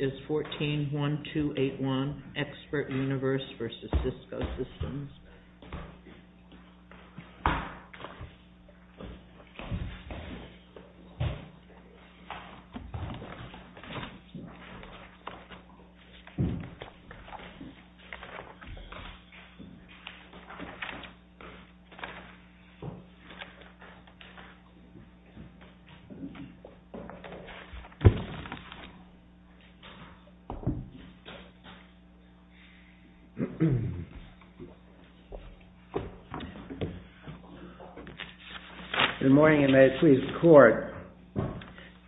is 14-1281, XpertUniverse v. Cisco Systems.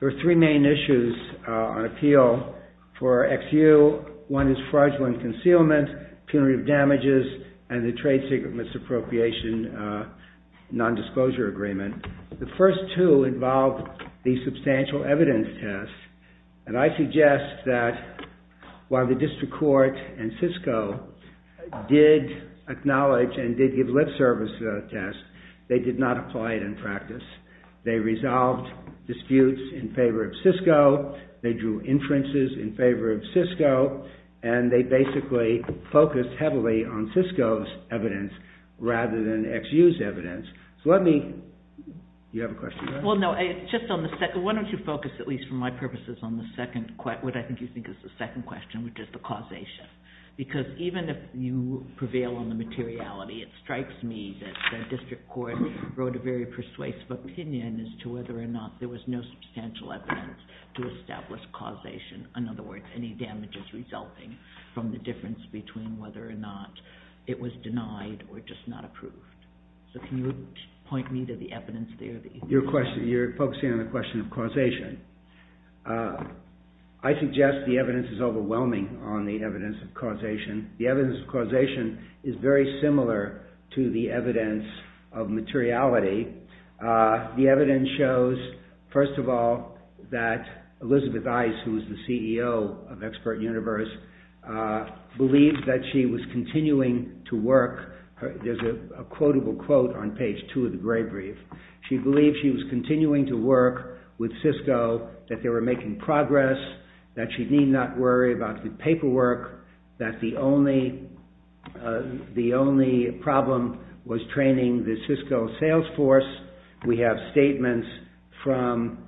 There are three main issues on appeal for XU. One is fraudulent concealment, punitive damages, and the trade secret misappropriation nondisclosure agreement. The first two involve the substantial evidence test, and I suggest that while the district court and Cisco did acknowledge and did give lip service to the test, they did not apply it in practice. They resolved disputes in favor of Cisco, they drew inferences in favor of Cisco, and they basically focused heavily on Cisco's evidence rather than XU's evidence. Why don't you focus, at least for my purposes, on what I think you think is the second question, which is the causation. Because even if you prevail on the materiality, it strikes me that the district court wrote a very persuasive opinion as to whether or not there was no substantial evidence to establish causation. In other words, any damages resulting from the difference between whether or not it was denied or just not approved. So can you explain that, or point me to the evidence there? You're focusing on the question of causation. I suggest the evidence is overwhelming on the evidence of causation. The evidence of causation is very similar to the evidence of materiality. The evidence shows, first of all, that Elizabeth Ice, who is the CEO of Expert Universe, believes that she was continuing to work with Cisco, that they were making progress, that she need not worry about the paperwork, that the only problem was training the Cisco sales force. We have statements from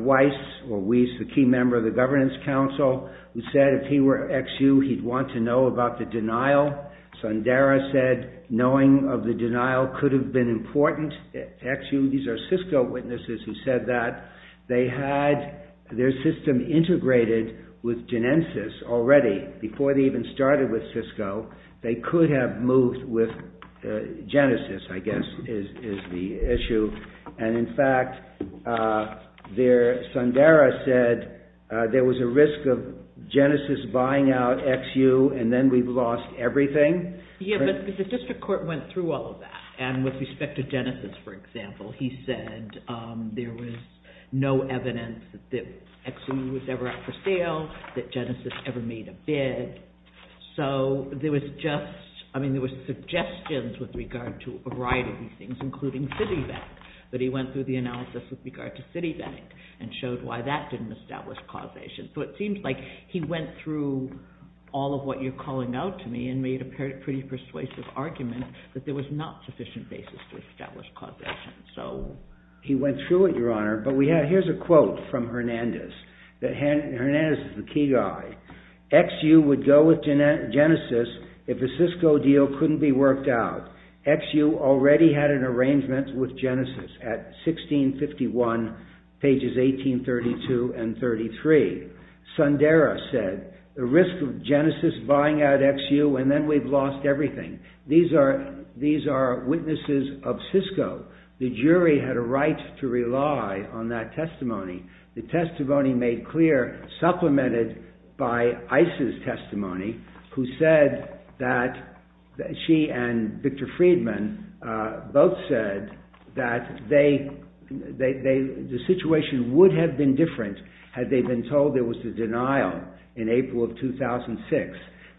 Weiss, or Weiss, the key member of the governance council, who said if he were XU, he'd want to know about the denial. Sundara said knowing of the denial could have been important. XU, these are Cisco witnesses who said that. They had their system integrated with Genesys already, before they even started with Cisco. They could have moved with Genesys, I guess, is the issue. And in fact, Sundara said there was a risk of Genesys buying out XU and then we've lost everything. Yeah, but the district court went through all of that, and with respect to Genesys, for example, he said there was no evidence that XU was ever up for sale, that Genesys ever made a bid. So there was suggestions with regard to a variety of these things, including Citibank, but he went through the analysis with regard to Citibank and showed why that didn't establish causation. So it seems like he went through all of what you're hearing, and he prepared a pretty persuasive argument that there was not sufficient basis to establish causation. He went through it, Your Honor, but here's a quote from Hernandez. Hernandez is the key guy. XU would go with Genesys if a Cisco deal couldn't be worked out. XU already had an arrangement with Genesys at 1651, pages 1832 and 33. Sundara said the risk of Genesys buying out XU, and then we've lost everything. These are witnesses of Cisco. The jury had a right to rely on that testimony. The testimony made clear, supplemented by ICE's testimony, who said that she and Victor Friedman both said that the situation would have been different had they been told there was a denial in April of 2006.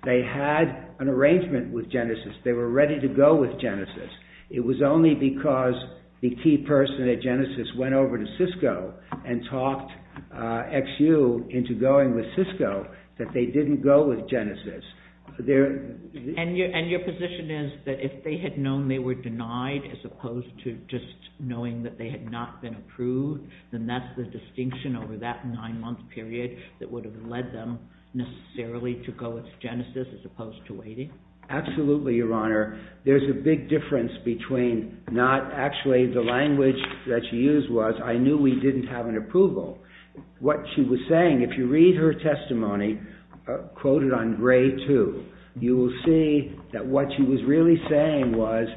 They had an arrangement with Genesys. They were ready to go with Genesys. It was only because the key person at Genesys went over to Cisco and talked XU into going with Cisco that they didn't go with Genesys. And your position is that if they had known they were denied as opposed to just knowing that they had not been approved, then that's the distinction over that nine-month period that would have led them necessarily to go with Genesys as opposed to waiting? Absolutely, Your Honor. There's a big difference between not actually the language that she used was, I knew we didn't have an approval. What she was saying, if you read her testimony, quoted on grade two, you will see that what she was really saying was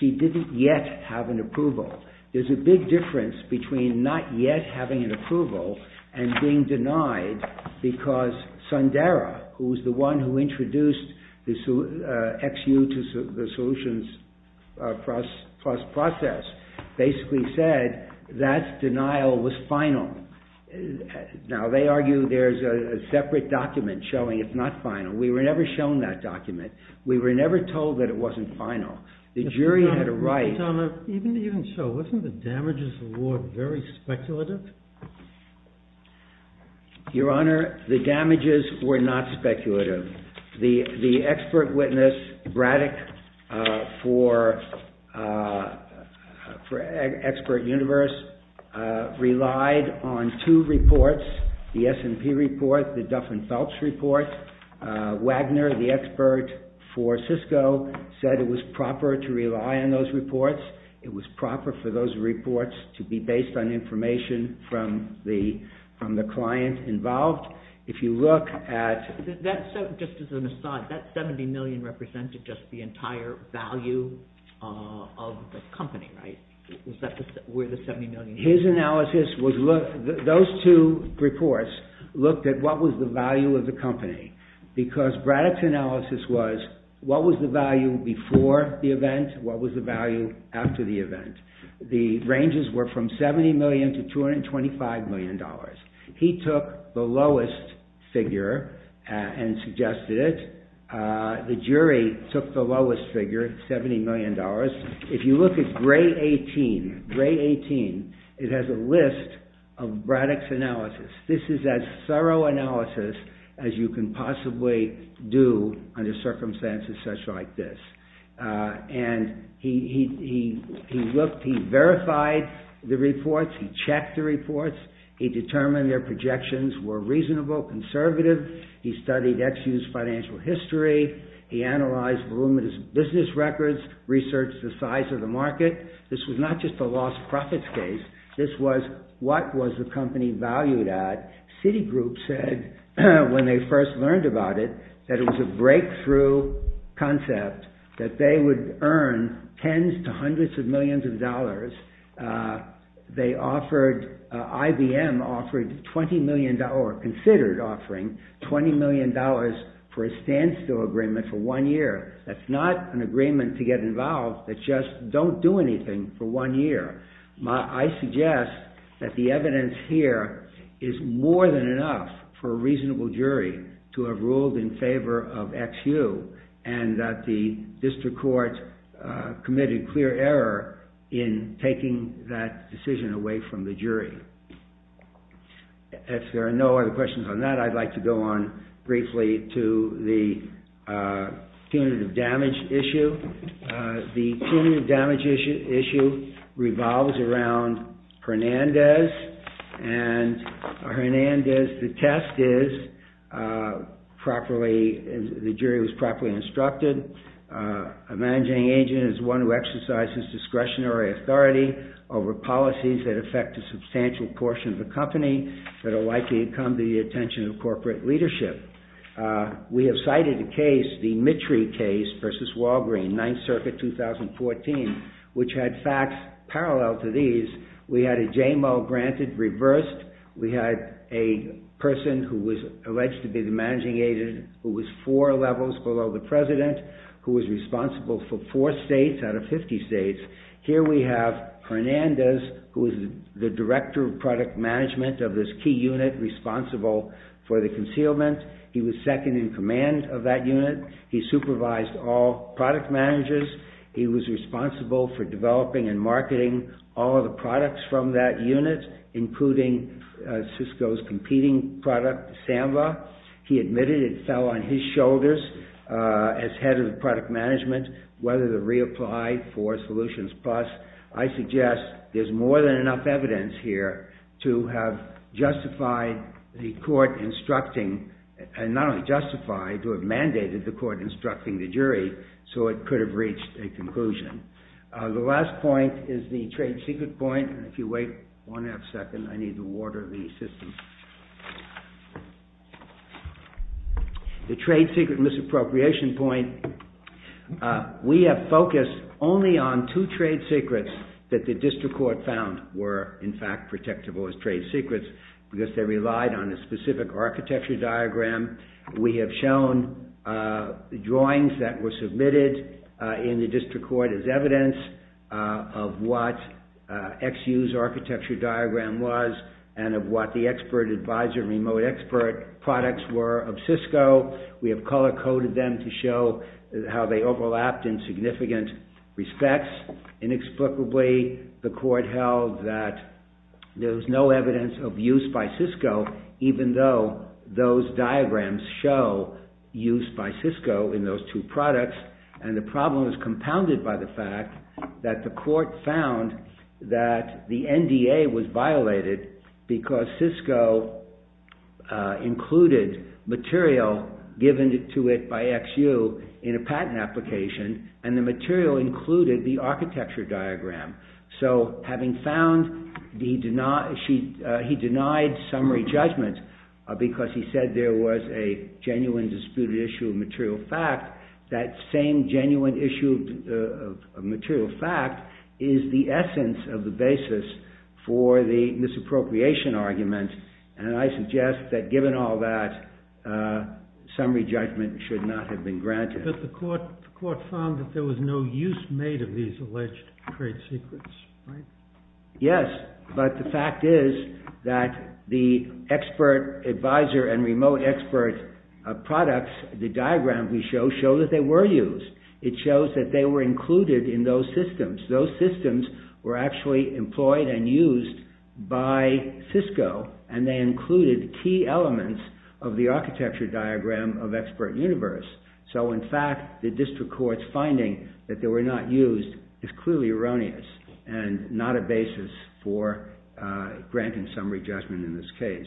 she didn't yet have an approval. There's a big difference between not yet having an approval and being denied because Sundara, who was the one who introduced XU to the solutions process, basically said that denial was final. Now, they argue there's a separate document showing it's not final. We were never shown that document. We were never told that it wasn't final. The jury had a right. Your Honor, even so, wasn't the damages award very speculative? Your Honor, the damages were not speculative. The expert witness, Braddock, for Expert Universe relied on two reports, the S&P report, the Duffin-Phelps report. Wagner, the expert for those reports, it was proper for those reports to be based on information from the client involved. If you look at... Just as an aside, that $70 million represented just the entire value of the company, right? His analysis was, those two reports looked at what was the value of the company because Braddock's analysis was, what was the value before the event? What was the value after the event? The ranges were from $70 million to $225 million. He took the lowest figure and suggested it. The jury took the lowest figure, $70 million. If you look at grade 18, it has a list of Braddock's analysis. This is as thorough analysis as you can possibly do under circumstances such like this. He looked, he verified the reports, he checked the reports, he determined their projections were reasonable, conservative, he studied Ex-U's financial history, he analyzed voluminous business records, researched the size of the market. This was not just a lost profits case. This was, what was the company valued at? Citigroup said, when they first learned about it, that it was a breakthrough concept that they would earn tens to hundreds of millions of dollars. They offered, IBM offered $20 million, or considered offering $20 million for a standstill agreement for one year. That's not an agreement to get involved that just don't do anything for one year. I suggest that the evidence here is more than enough for a reasonable jury to have ruled in favor of Ex-U, and that the district court committed clear error in taking that decision away from the jury. If there are no other questions on that, I'd like to go on briefly to the punitive damage issue. The punitive damage issue revived the $70 million bond around Hernandez, and Hernandez, the test is, the jury was properly instructed. A managing agent is one who exercises discretionary authority over policies that affect a substantial portion of the company that are likely to come to the attention of corporate leadership. We have cited a case, the Mitry case versus Walgreen, 9th Circuit, 2014, which had facts parallel to these. We had a JMO granted, reversed. We had a person who was alleged to be the managing agent who was four levels below the president, who was responsible for four states out of 50 states. Here we have Hernandez, who is the director of product management of this key unit responsible for the concealment. He was second in command of that unit. He was responsible for developing and marketing all of the products from that unit, including Cisco's competing product, Samba. He admitted it fell on his shoulders as head of the product management, whether to reapply for Solutions Plus. I suggest there's more than enough evidence here to have justified the court instructing, and not only justified, to have mandated the conclusion. The last point is the trade secret point. If you wait one half second, I need to water the system. The trade secret misappropriation point. We have focused only on two trade secrets that the district court found were, in fact, protectable as trade secrets, because they relied on a specific architecture diagram. We have shown drawings that were submitted in the district court as evidence of what XU's architecture diagram was, and of what the expert advisor, remote expert products were of Cisco. We have color-coded them to show how they overlapped in significant respects. Inexplicably, the court held that there was no evidence of use by Cisco, even though those diagrams show use by Cisco in those two products. The problem is compounded by the fact that the court found that the NDA was violated because Cisco included material given to it by XU in a patent application, and the material included the architecture diagram. He denied summary judgment because he said there was a genuine disputed issue of material fact. That same genuine issue of material fact is the essence of the basis for the misappropriation argument, and I suggest that given all that, summary judgment should not have been granted. But the court found that there was no use made of these alleged trade secrets, right? Yes, but the fact is that the expert advisor and remote expert products, the diagram we show, show that they were used. It shows that they were included in those systems. Those systems were actually employed and used by Cisco, and they included key elements of the architecture diagram of expert universe. So in fact, the district court's finding that they were not used is clearly erroneous and not a basis for granting summary judgment in this case.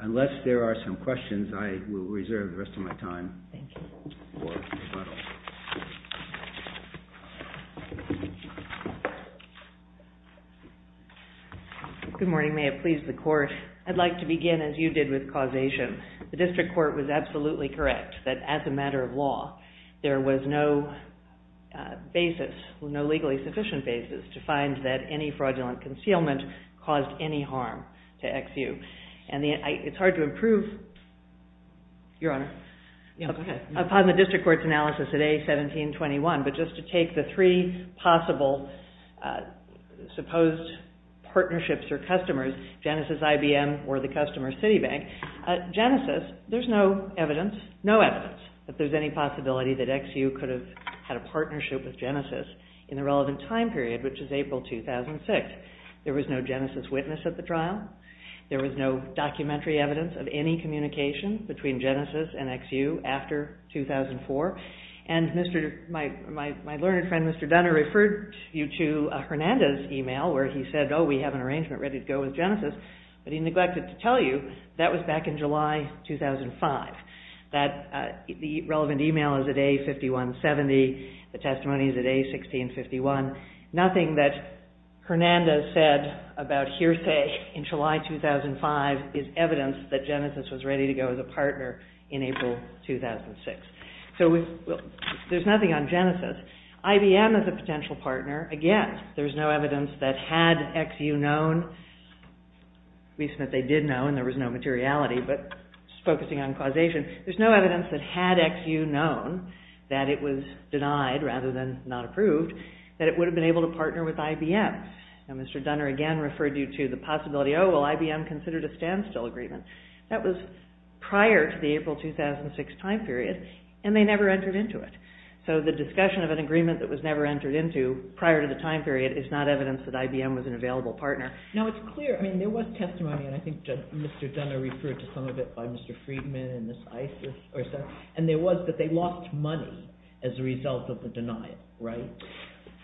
Unless there are some questions, I will reserve the rest of my time for rebuttals. Good morning. May it please the court. I'd like to begin, as you did, with causation. The district court was absolutely correct that as a matter of law, there was no basis, no legally sufficient basis to find that any fraudulent concealment caused any harm to XU. And it's hard to improve, your honor, upon the district court's analysis at A1721, but just to take the three possible supposed partnerships or customers, Genesys, IBM, or the customer, Citibank. Genesys, there's no evidence, no evidence, that there's any possibility that XU could have had a partnership with CIT. There was no Genesys witness at the trial. There was no documentary evidence of any communication between Genesys and XU after 2004. And my learned friend, Mr. Dunner, referred you to Hernandez's email where he said, oh, we have an arrangement ready to go with Genesys, but he neglected to tell you that was back in July 2005. The relevant email is at A5170. The testimony is at A1651. Nothing that Hernandez said about hearsay in July 2005 is evidence that Genesys was ready to go as a partner in April 2006. So there's nothing on Genesys. IBM is a potential partner. Again, there's no evidence that had XU known, at least that they did know and there was no materiality, but just focusing on causation, there's no evidence denied, rather than not approved, that it would have been able to partner with IBM. Now, Mr. Dunner again referred you to the possibility, oh, well, IBM considered a standstill agreement. That was prior to the April 2006 time period and they never entered into it. So the discussion of an agreement that was never entered into prior to the time period is not evidence that IBM was an available partner. Now, it's clear, I mean, there was testimony and I think Mr. Dunner referred to some of it by Mr. Friedman and Ms. Isis and there was that they lost money as a result of the denial, right?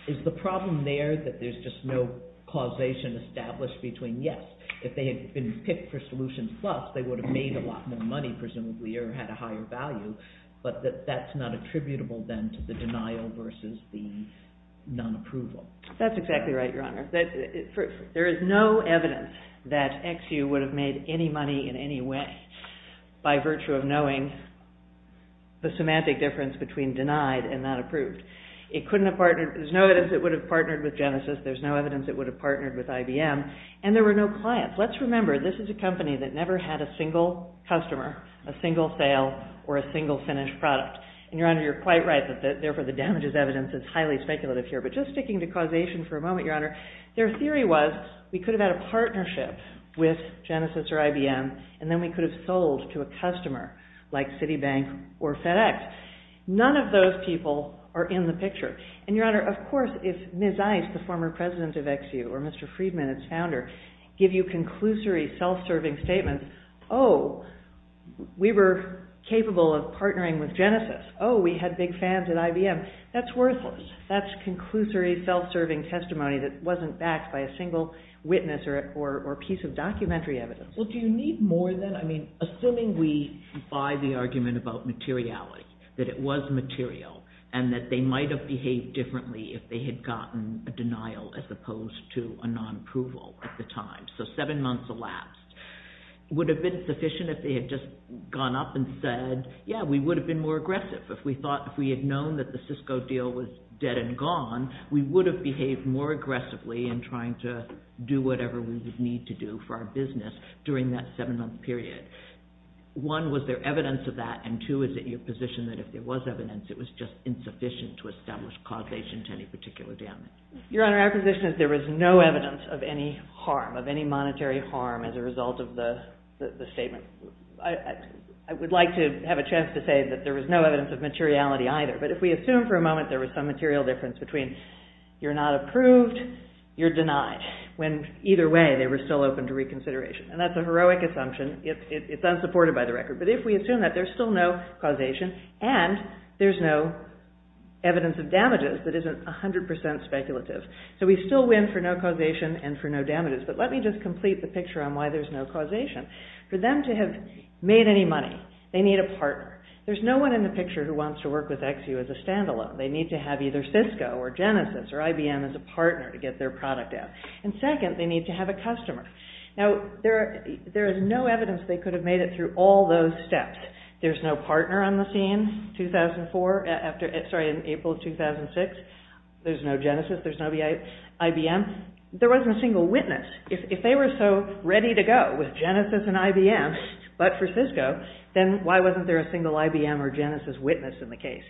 Is the problem there that there's just no causation established between, yes, if they had been picked for Solutions Plus, they would have made a lot more money presumably or had a higher value, but that's not attributable then to the denial versus the non-approval. That's exactly right, Your Honor. There is no evidence that XU would have made any money in any way by virtue of knowing the semantic difference between denied and not approved. It couldn't have partnered, there's no evidence it would have partnered with Genesys, there's no evidence it would have partnered with IBM, and there were no clients. Let's remember, this is a company that never had a single customer, a single sale, or a single finished product. And, Your Honor, you're quite right that therefore the damages evidence is highly speculative here, but just sticking to causation for a moment, Your Honor, their theory was we could have had a partnership with Genesys or IBM, and then we could have sold to a customer like Citibank or FedEx. None of those people are in the picture. And, Your Honor, of course if Ms. Ice, the former president of XU, or Mr. Friedman, its founder, give you conclusory self-serving statements, oh, we were capable of partnering with Genesys, oh, we had big fans at IBM, that's worthless. That's conclusory self-serving testimony that wasn't backed by a single witness or piece of documentary evidence. Well, do you need more than, I mean, assuming we buy the argument about materiality, that it was material, and that they might have behaved differently if they had gotten a denial as opposed to a non-approval at the time, so seven months elapsed, would have been sufficient if they had just gone up and said, yeah, we would have been more aggressive. If we had known that the Cisco deal was dead and gone, we would have behaved more aggressively in trying to do whatever we would need to do for our business during that seven-month period. One, was there evidence of that, and two, is it your position that if there was evidence, it was just insufficient to establish causation to any particular damage? Your Honor, our position is there was no evidence of any harm, of any monetary harm as a result of the statement. I would like to have a chance to say that there was no evidence of materiality either, but if we assume for a moment there was some material difference between you're not approved, you're denied, when either way, they were still open to reconsideration, and that's a heroic assumption. It's unsupported by the record, but if we assume that there's still no causation and there's no evidence of damages, that isn't 100% speculative. So we still win for no causation and for no damages, but let me just complete the picture on why there's no causation. For them to have made any money, they need a partner. There's no reason to work with XU as a stand-alone. They need to have either Cisco or Genesis or IBM as a partner to get their product out, and second, they need to have a customer. Now there is no evidence they could have made it through all those steps. There's no partner on the scene in April of 2006. There's no Genesis. There's no IBM. There wasn't a single witness. If they were so ready to go with Genesis and IBM, but for Cisco, then why wasn't there a single IBM or Genesis witness in the case?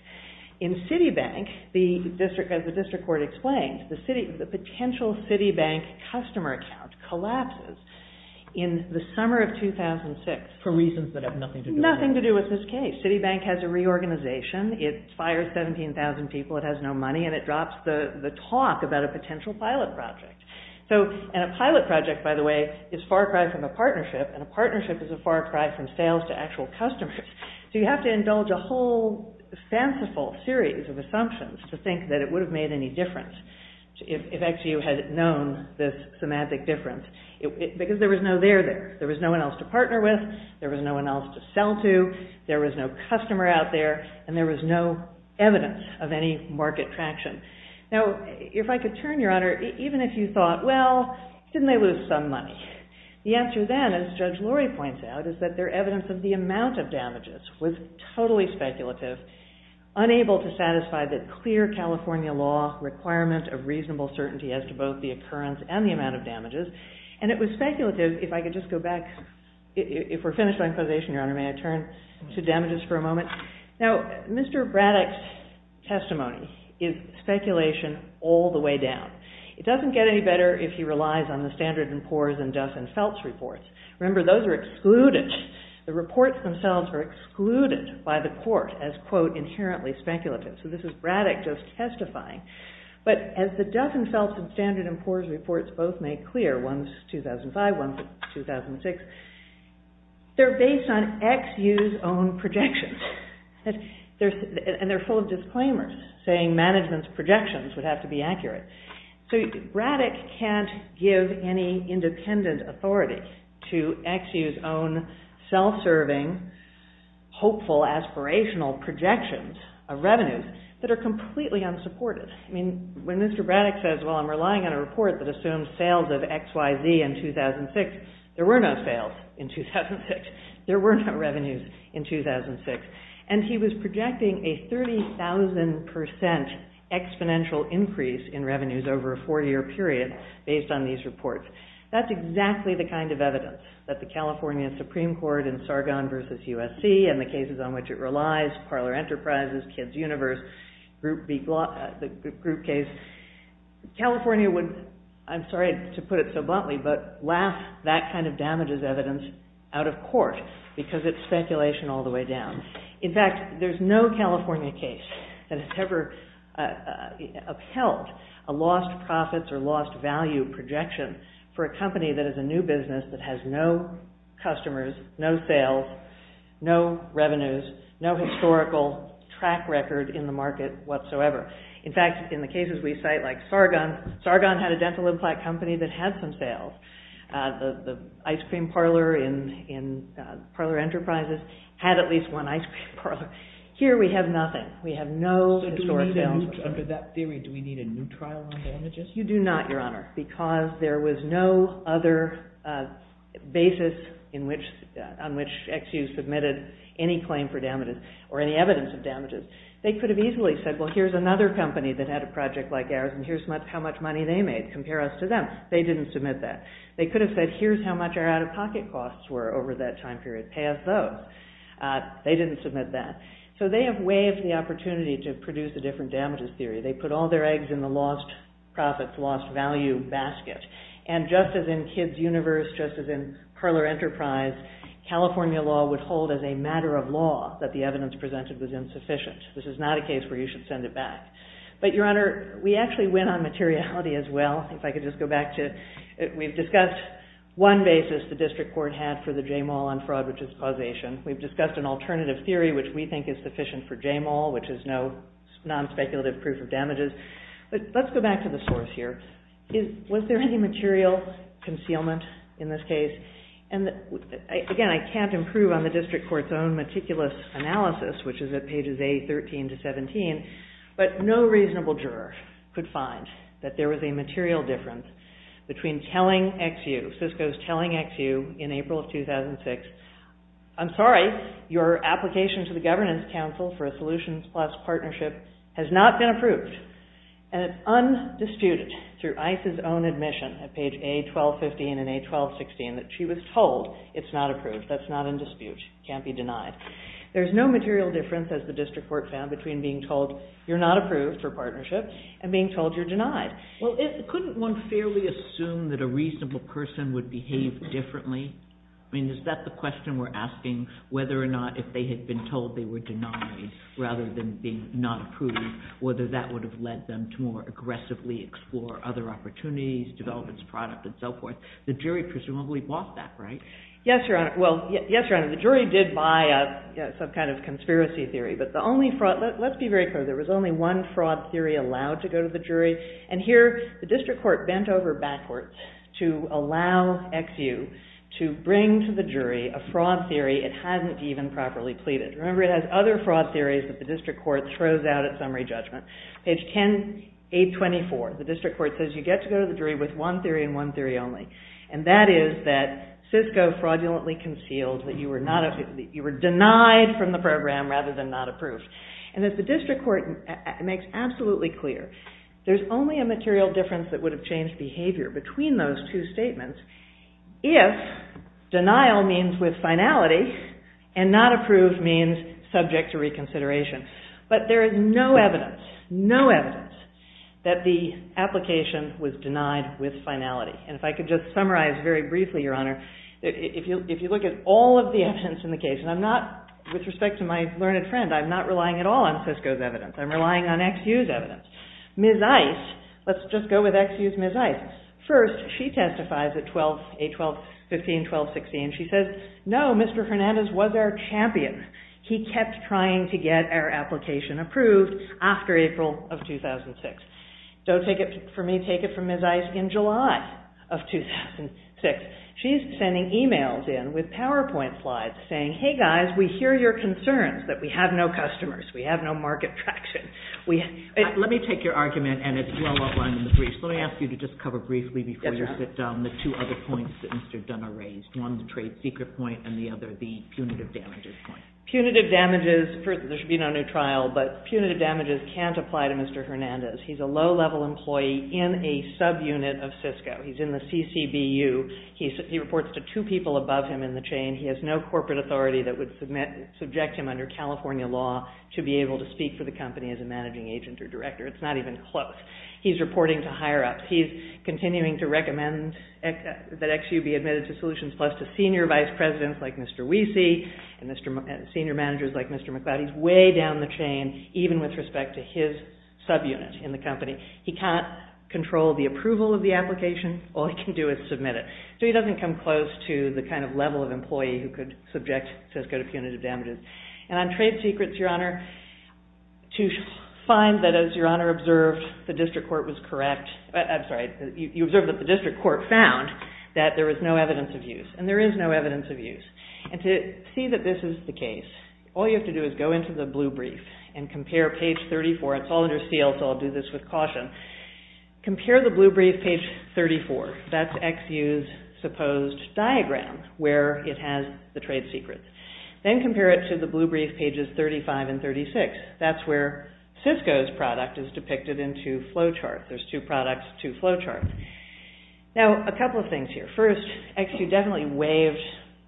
In Citibank, as the district court explained, the potential Citibank customer account collapses in the summer of 2006. For reasons that have nothing to do with this case. Nothing to do with this case. Citibank has a reorganization. It fires 17,000 people. It has no money, and it drops the talk about a potential pilot project. A pilot project, by the way, is far cry from a partnership, and a partnership is a far cry from sales to actual customers. So you have to indulge a whole fanciful series of assumptions to think that it would have made any difference if XU had known this semantic difference, because there was no there. There was no one else to partner with. There was no one else to sell to. There was no customer out there, and there was no evidence of any market traction. Now if I could turn, Your Honor, even if you thought, well, didn't they lose some money? The answer then, as Judge Lori points out, is that their evidence of the amount of damages was totally speculative, unable to satisfy the clear California law requirement of reasonable certainty as to both the occurrence and the amount of damages, and it was speculative, if I could just go back, if we're finished on inquisition, Your Honor, may I turn to damages for a moment? Now, Mr. Braddock's testimony is speculation all the way down. It doesn't get any better if he relies on the Standard and Poor's and Duff and Phelps reports. Remember, those are excluded. The reports themselves are excluded by the court as, quote, inherently speculative. So this is Braddock just testifying. But as the Duff and Phelps and Standard and Poor's reports both make clear, one's 2005, one's 2006, they're based on XU's own projections, and they're full of disclaimers saying management's projections would have to be accurate. So Braddock can't give any independent authority to XU's own self-serving, hopeful, aspirational projections of revenues that are completely unsupported. When Mr. Braddock says, well, I'm relying on a report that assumes sales of XYZ in 2006, there were no sales in 2006. There were no revenues in 2006. And he was projecting a 30,000 percent exponential increase in revenues over a four-year period based on these reports. That's exactly the kind of evidence that the California Supreme Court in Sargon v. USC and the cases on which it relies, Parler Enterprises, Kids' Universe, the Group case, California would, I'm sorry to put it so bluntly, but laugh that kind of damage as evidence out of court because it's speculation all the way down. In fact, there's no California case that has ever upheld a lost profits or lost value projection for a company that is a new business that has no customers, no sales, no revenues, no historical track record in the market whatsoever. In fact, in the cases we cite like Sargon, Sargon had a dental cream parlor in Parler Enterprises, had at least one ice cream parlor. Here we have nothing. We have no historic sales. So do we need, under that theory, do we need a new trial on damages? You do not, Your Honor, because there was no other basis on which XU submitted any claim for damages or any evidence of damages. They could have easily said, well, here's another company that had a project like ours and here's how much money they made. Compare us to them. They didn't submit that. They could have said, here's how much our out-of-pocket costs were over that time period. Pay us those. They didn't submit that. So they have waived the opportunity to produce a different damages theory. They put all their eggs in the lost profits, lost value basket. And just as in Kids' Universe, just as in Parler Enterprise, California law would hold as a matter of law that the evidence presented was insufficient. This is not a case where you should send it back. But, Your Honor, we actually went on materiality as well. If I could just go back to, we've discussed one basis the district court had for the J. Moll on fraud, which is causation. We've discussed an alternative theory, which we think is sufficient for J. Moll, which is no non-speculative proof of damages. But let's go back to the source here. Was there any material concealment in this case? And again, I can't improve on the district court's own meticulous analysis, which is at pages A13 to 17, but no reasonable juror could find that there was a material difference between telling XU, FISCO's telling XU in April of 2006, I'm sorry, your application to the Governance Council for a Solutions Plus partnership has not been approved. And it's undisputed through ICE's own admission at page A1215 and A1216 that she was told it's not approved. That's not in dispute. It can't be denied. There's no material difference, as the district court found, between being told you're not approved for a partnership and being told you're denied. Well, couldn't one fairly assume that a reasonable person would behave differently? I mean, is that the question we're asking, whether or not if they had been told they were denied rather than being not approved, whether that would have led them to more aggressively explore other opportunities, develop its product, and so forth? The jury presumably bought that, right? Yes, Your Honor. Well, yes, Your Honor. The jury did buy some kind of conspiracy theory, but the only fraud, let's be very clear, there was only one fraud theory allowed to go to the jury. And here, the district court bent over backwards to allow XU to bring to the jury a fraud theory it hadn't even properly pleaded. Remember, it has other fraud theories that the district court throws out at summary judgment. Page 10, 824, the district court says you get to go to the jury with one theory and one theory only, and that is that Cisco fraudulently concealed that you were denied from the program rather than not approved. And as the district court makes absolutely clear, there's only a material difference that would have changed behavior between those two statements if denial means with finality and not approved means subject to reconsideration. But there is no evidence, no evidence, that the application was denied with finality. And if I could just summarize very briefly, Your Honor, if you look at all of the evidence in the case, and I'm not, with respect to my learned friend, I'm not relying at all on Cisco's evidence. I'm relying on XU's evidence. Ms. Ice, let's just go with XU's Ms. Ice. First, she testifies at 8-12-15, 12-16, and she says, no, Mr. Hernandez was our champion. He kept trying to get our application approved after April of 2006. Don't take it from me, take it from Ms. Ice in July of 2006. She's sending emails in with PowerPoint slides saying, hey guys, we hear your concerns that we have no customers, we have no market traction. Let me take your argument, and it's well outlined in the briefs. Let me ask you to just cover briefly before you sit down the two other points that Mr. Dunn raised. One, the trade secret point, and the other, the punitive damages point. Punitive damages, there should be no new trial, but punitive damages can't apply to Mr. Hernandez. He's a low-level employee in a subunit of Cisco. He's in the CCBU. He reports to two people above him in the chain. He has no corporate authority that would subject him under California law to be able to speak for the company as a managing agent or director. It's not even close. He's reporting to higher-ups. He's continuing to recommend that XU be admitted to Solutions Plus to senior vice presidents like Mr. Wiese and senior managers like Mr. McLeod. He's way down the chain, even with respect to his subunit in the company. He can't control the approval of the application. All he can do is submit it. So he doesn't come close to the kind of level of employee who could subject Cisco to punitive damages. And on trade secrets, Your Honor, to find that, as Your Honor observed, the district court was correct, I'm sorry, you observed that the district court found that there was no evidence of use, and there is no evidence of use. And to see that this is the case, all you have to do is go into the blue brief and compare page 34. It's all under seal, so I'll do this with caution. Compare the blue brief, page 34. That's XU's supposed diagram where it has the trade secrets. Then compare it to the blue brief, pages 35 and 36. That's where Cisco's product is depicted in two flow charts. There's two products, two flow charts. Now, a couple of things here. First, XU definitely waived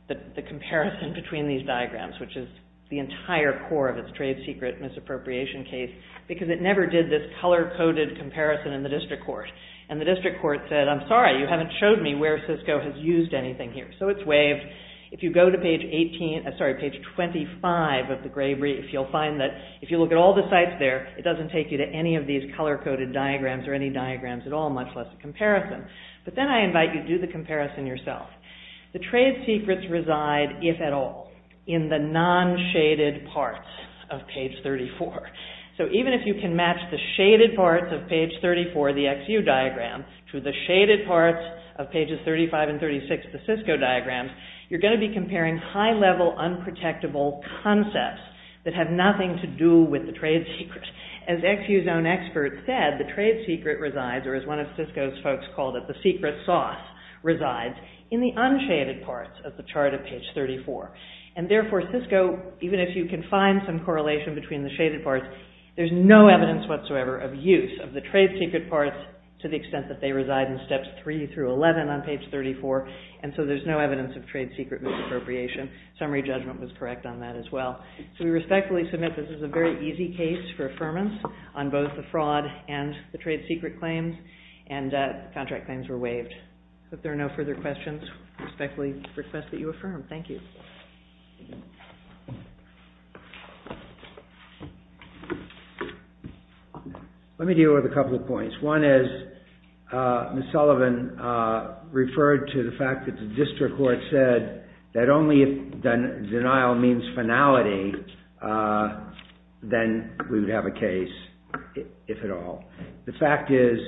the comparison between these diagrams, which is the entire core of its trade secret misappropriation case, because it never did this color-coded comparison in the district court. And the same thing here. So it's waived. If you go to page 25 of the gray brief, you'll find that if you look at all the sites there, it doesn't take you to any of these color-coded diagrams or any diagrams at all, much less a comparison. But then I invite you to do the comparison yourself. The trade secrets reside, if at all, in the non-shaded parts of page 34. So even if you can match the shaded parts of page 34, the XU diagram, to the shaded parts of pages 35 and 36 of the Cisco diagram, you're going to be comparing high-level, unprotectable concepts that have nothing to do with the trade secret. As XU's own expert said, the trade secret resides, or as one of Cisco's folks called it, the secret sauce resides, in the unshaded parts of the chart of page 34. And therefore, Cisco, even if you can find some correlation between the shaded parts, there's no evidence whatsoever of use of the three through 11 on page 34, and so there's no evidence of trade secret misappropriation. Summary judgment was correct on that as well. So we respectfully submit this is a very easy case for affirmance on both the fraud and the trade secret claims, and contract claims were waived. If there are no further questions, I respectfully request that you affirm. Thank you. Let me deal with a couple of points. One is Ms. Sullivan referred to the fact that the district court said that only if denial means finality, then we would have a case, if at all. The fact is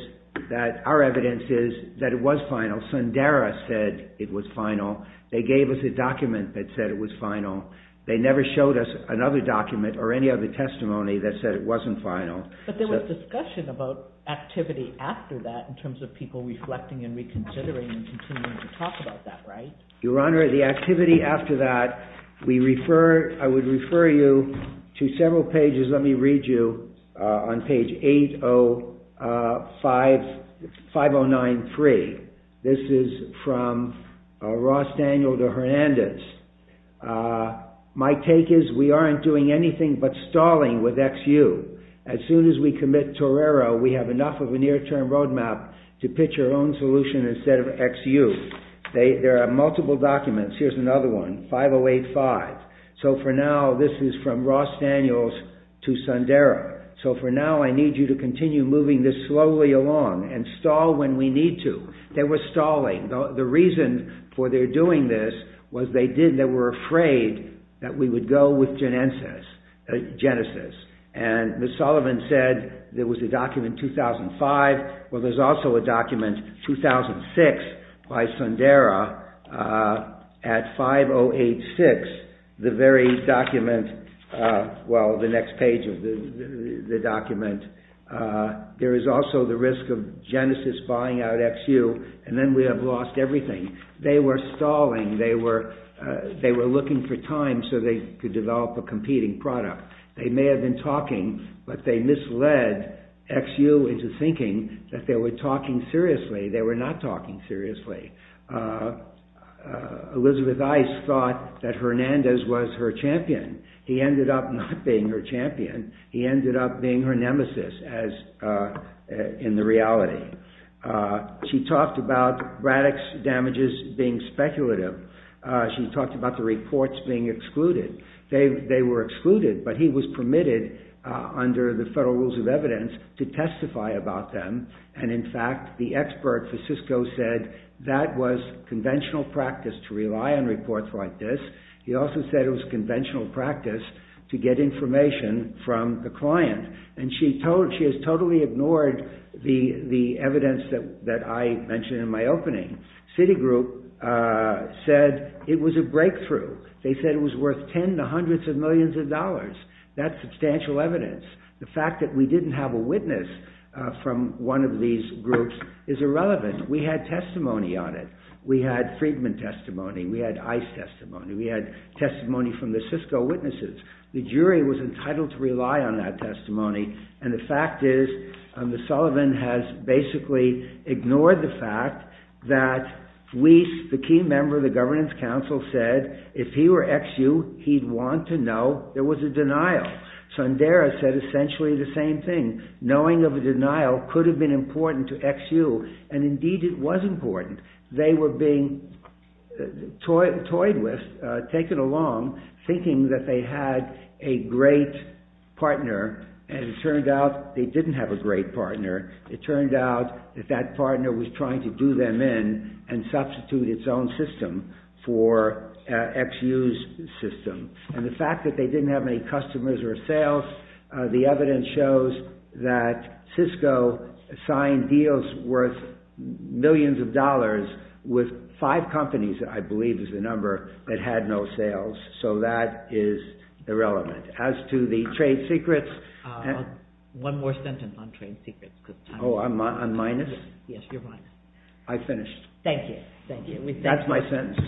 that our evidence is that it was final. Sundara said it was final. They gave us a document that said it was final. They never showed us another document or any other testimony that said it wasn't final. But there was discussion about activity after that in terms of people reflecting and reconsidering and continuing to talk about that, right? Your Honor, the activity after that, I would refer you to several pages. Let me read you on page 509-3. This is from Ross Daniels to Hernandez. My take is we aren't doing anything but stalling with XU. As soon as we commit Torero, we have enough of a near-term roadmap to pitch our own solution instead of XU. There are multiple documents. Here's another one, 508-5. For now, this is from Ross Daniels to Sundara. For now, I need you to continue moving this slowly along and stall when we need to. They were stalling. The reason for their doing this was they were afraid that we would go with Genesis. Ms. Sullivan said there was a document 2005. There's also a document 2006 by Sundara at 508-5. Page 6, the very document, well, the next page of the document, there is also the risk of Genesis buying out XU and then we have lost everything. They were stalling. They were looking for time so they could develop a competing product. They may have been talking, but they misled XU into thinking that they were talking seriously. They were not talking seriously. Elizabeth Ice thought that Hernandez was her champion. He ended up not being her champion. He ended up being her nemesis in the reality. She talked about Braddock's damages being speculative. She talked about the reports being excluded. They were excluded, but he was permitted under the federal rules of evidence to testify about them. In fact, the expert for Cisco said that was conventional practice to rely on reports like this. He also said it was conventional practice to get information from the client. She has totally ignored the evidence that I mentioned in my opening. Citigroup said it was a breakthrough. They said it was worth ten to hundreds of millions of dollars. That's substantial evidence. The fact that we didn't have a witness from one of these groups is irrelevant. We had testimony on it. We had Friedman testimony. We had Ice testimony. We had testimony from the Cisco witnesses. The jury was entitled to rely on that testimony. The fact is, Sullivan has basically ignored the fact that Weiss, the key member of the governance council said if he were XU, he'd want to know there was a denial. Sundara said essentially the same thing. Knowing of a denial could have been important to XU, and indeed it was important. They were being toyed with, taken along, thinking that they had a great partner, and it turned out they didn't have a great partner. It turned out that that partner was trying to do them in and substitute its own system for XU's system. The fact that they didn't have any customers or sales, the evidence shows that Cisco signed deals worth millions of dollars with five companies, I believe is the number, that had no sales. That is irrelevant. As to the trade secrets... One more sentence on trade secrets. Oh, I'm minus? Yes, you're minus. I finished. Thank you. That's my sentence.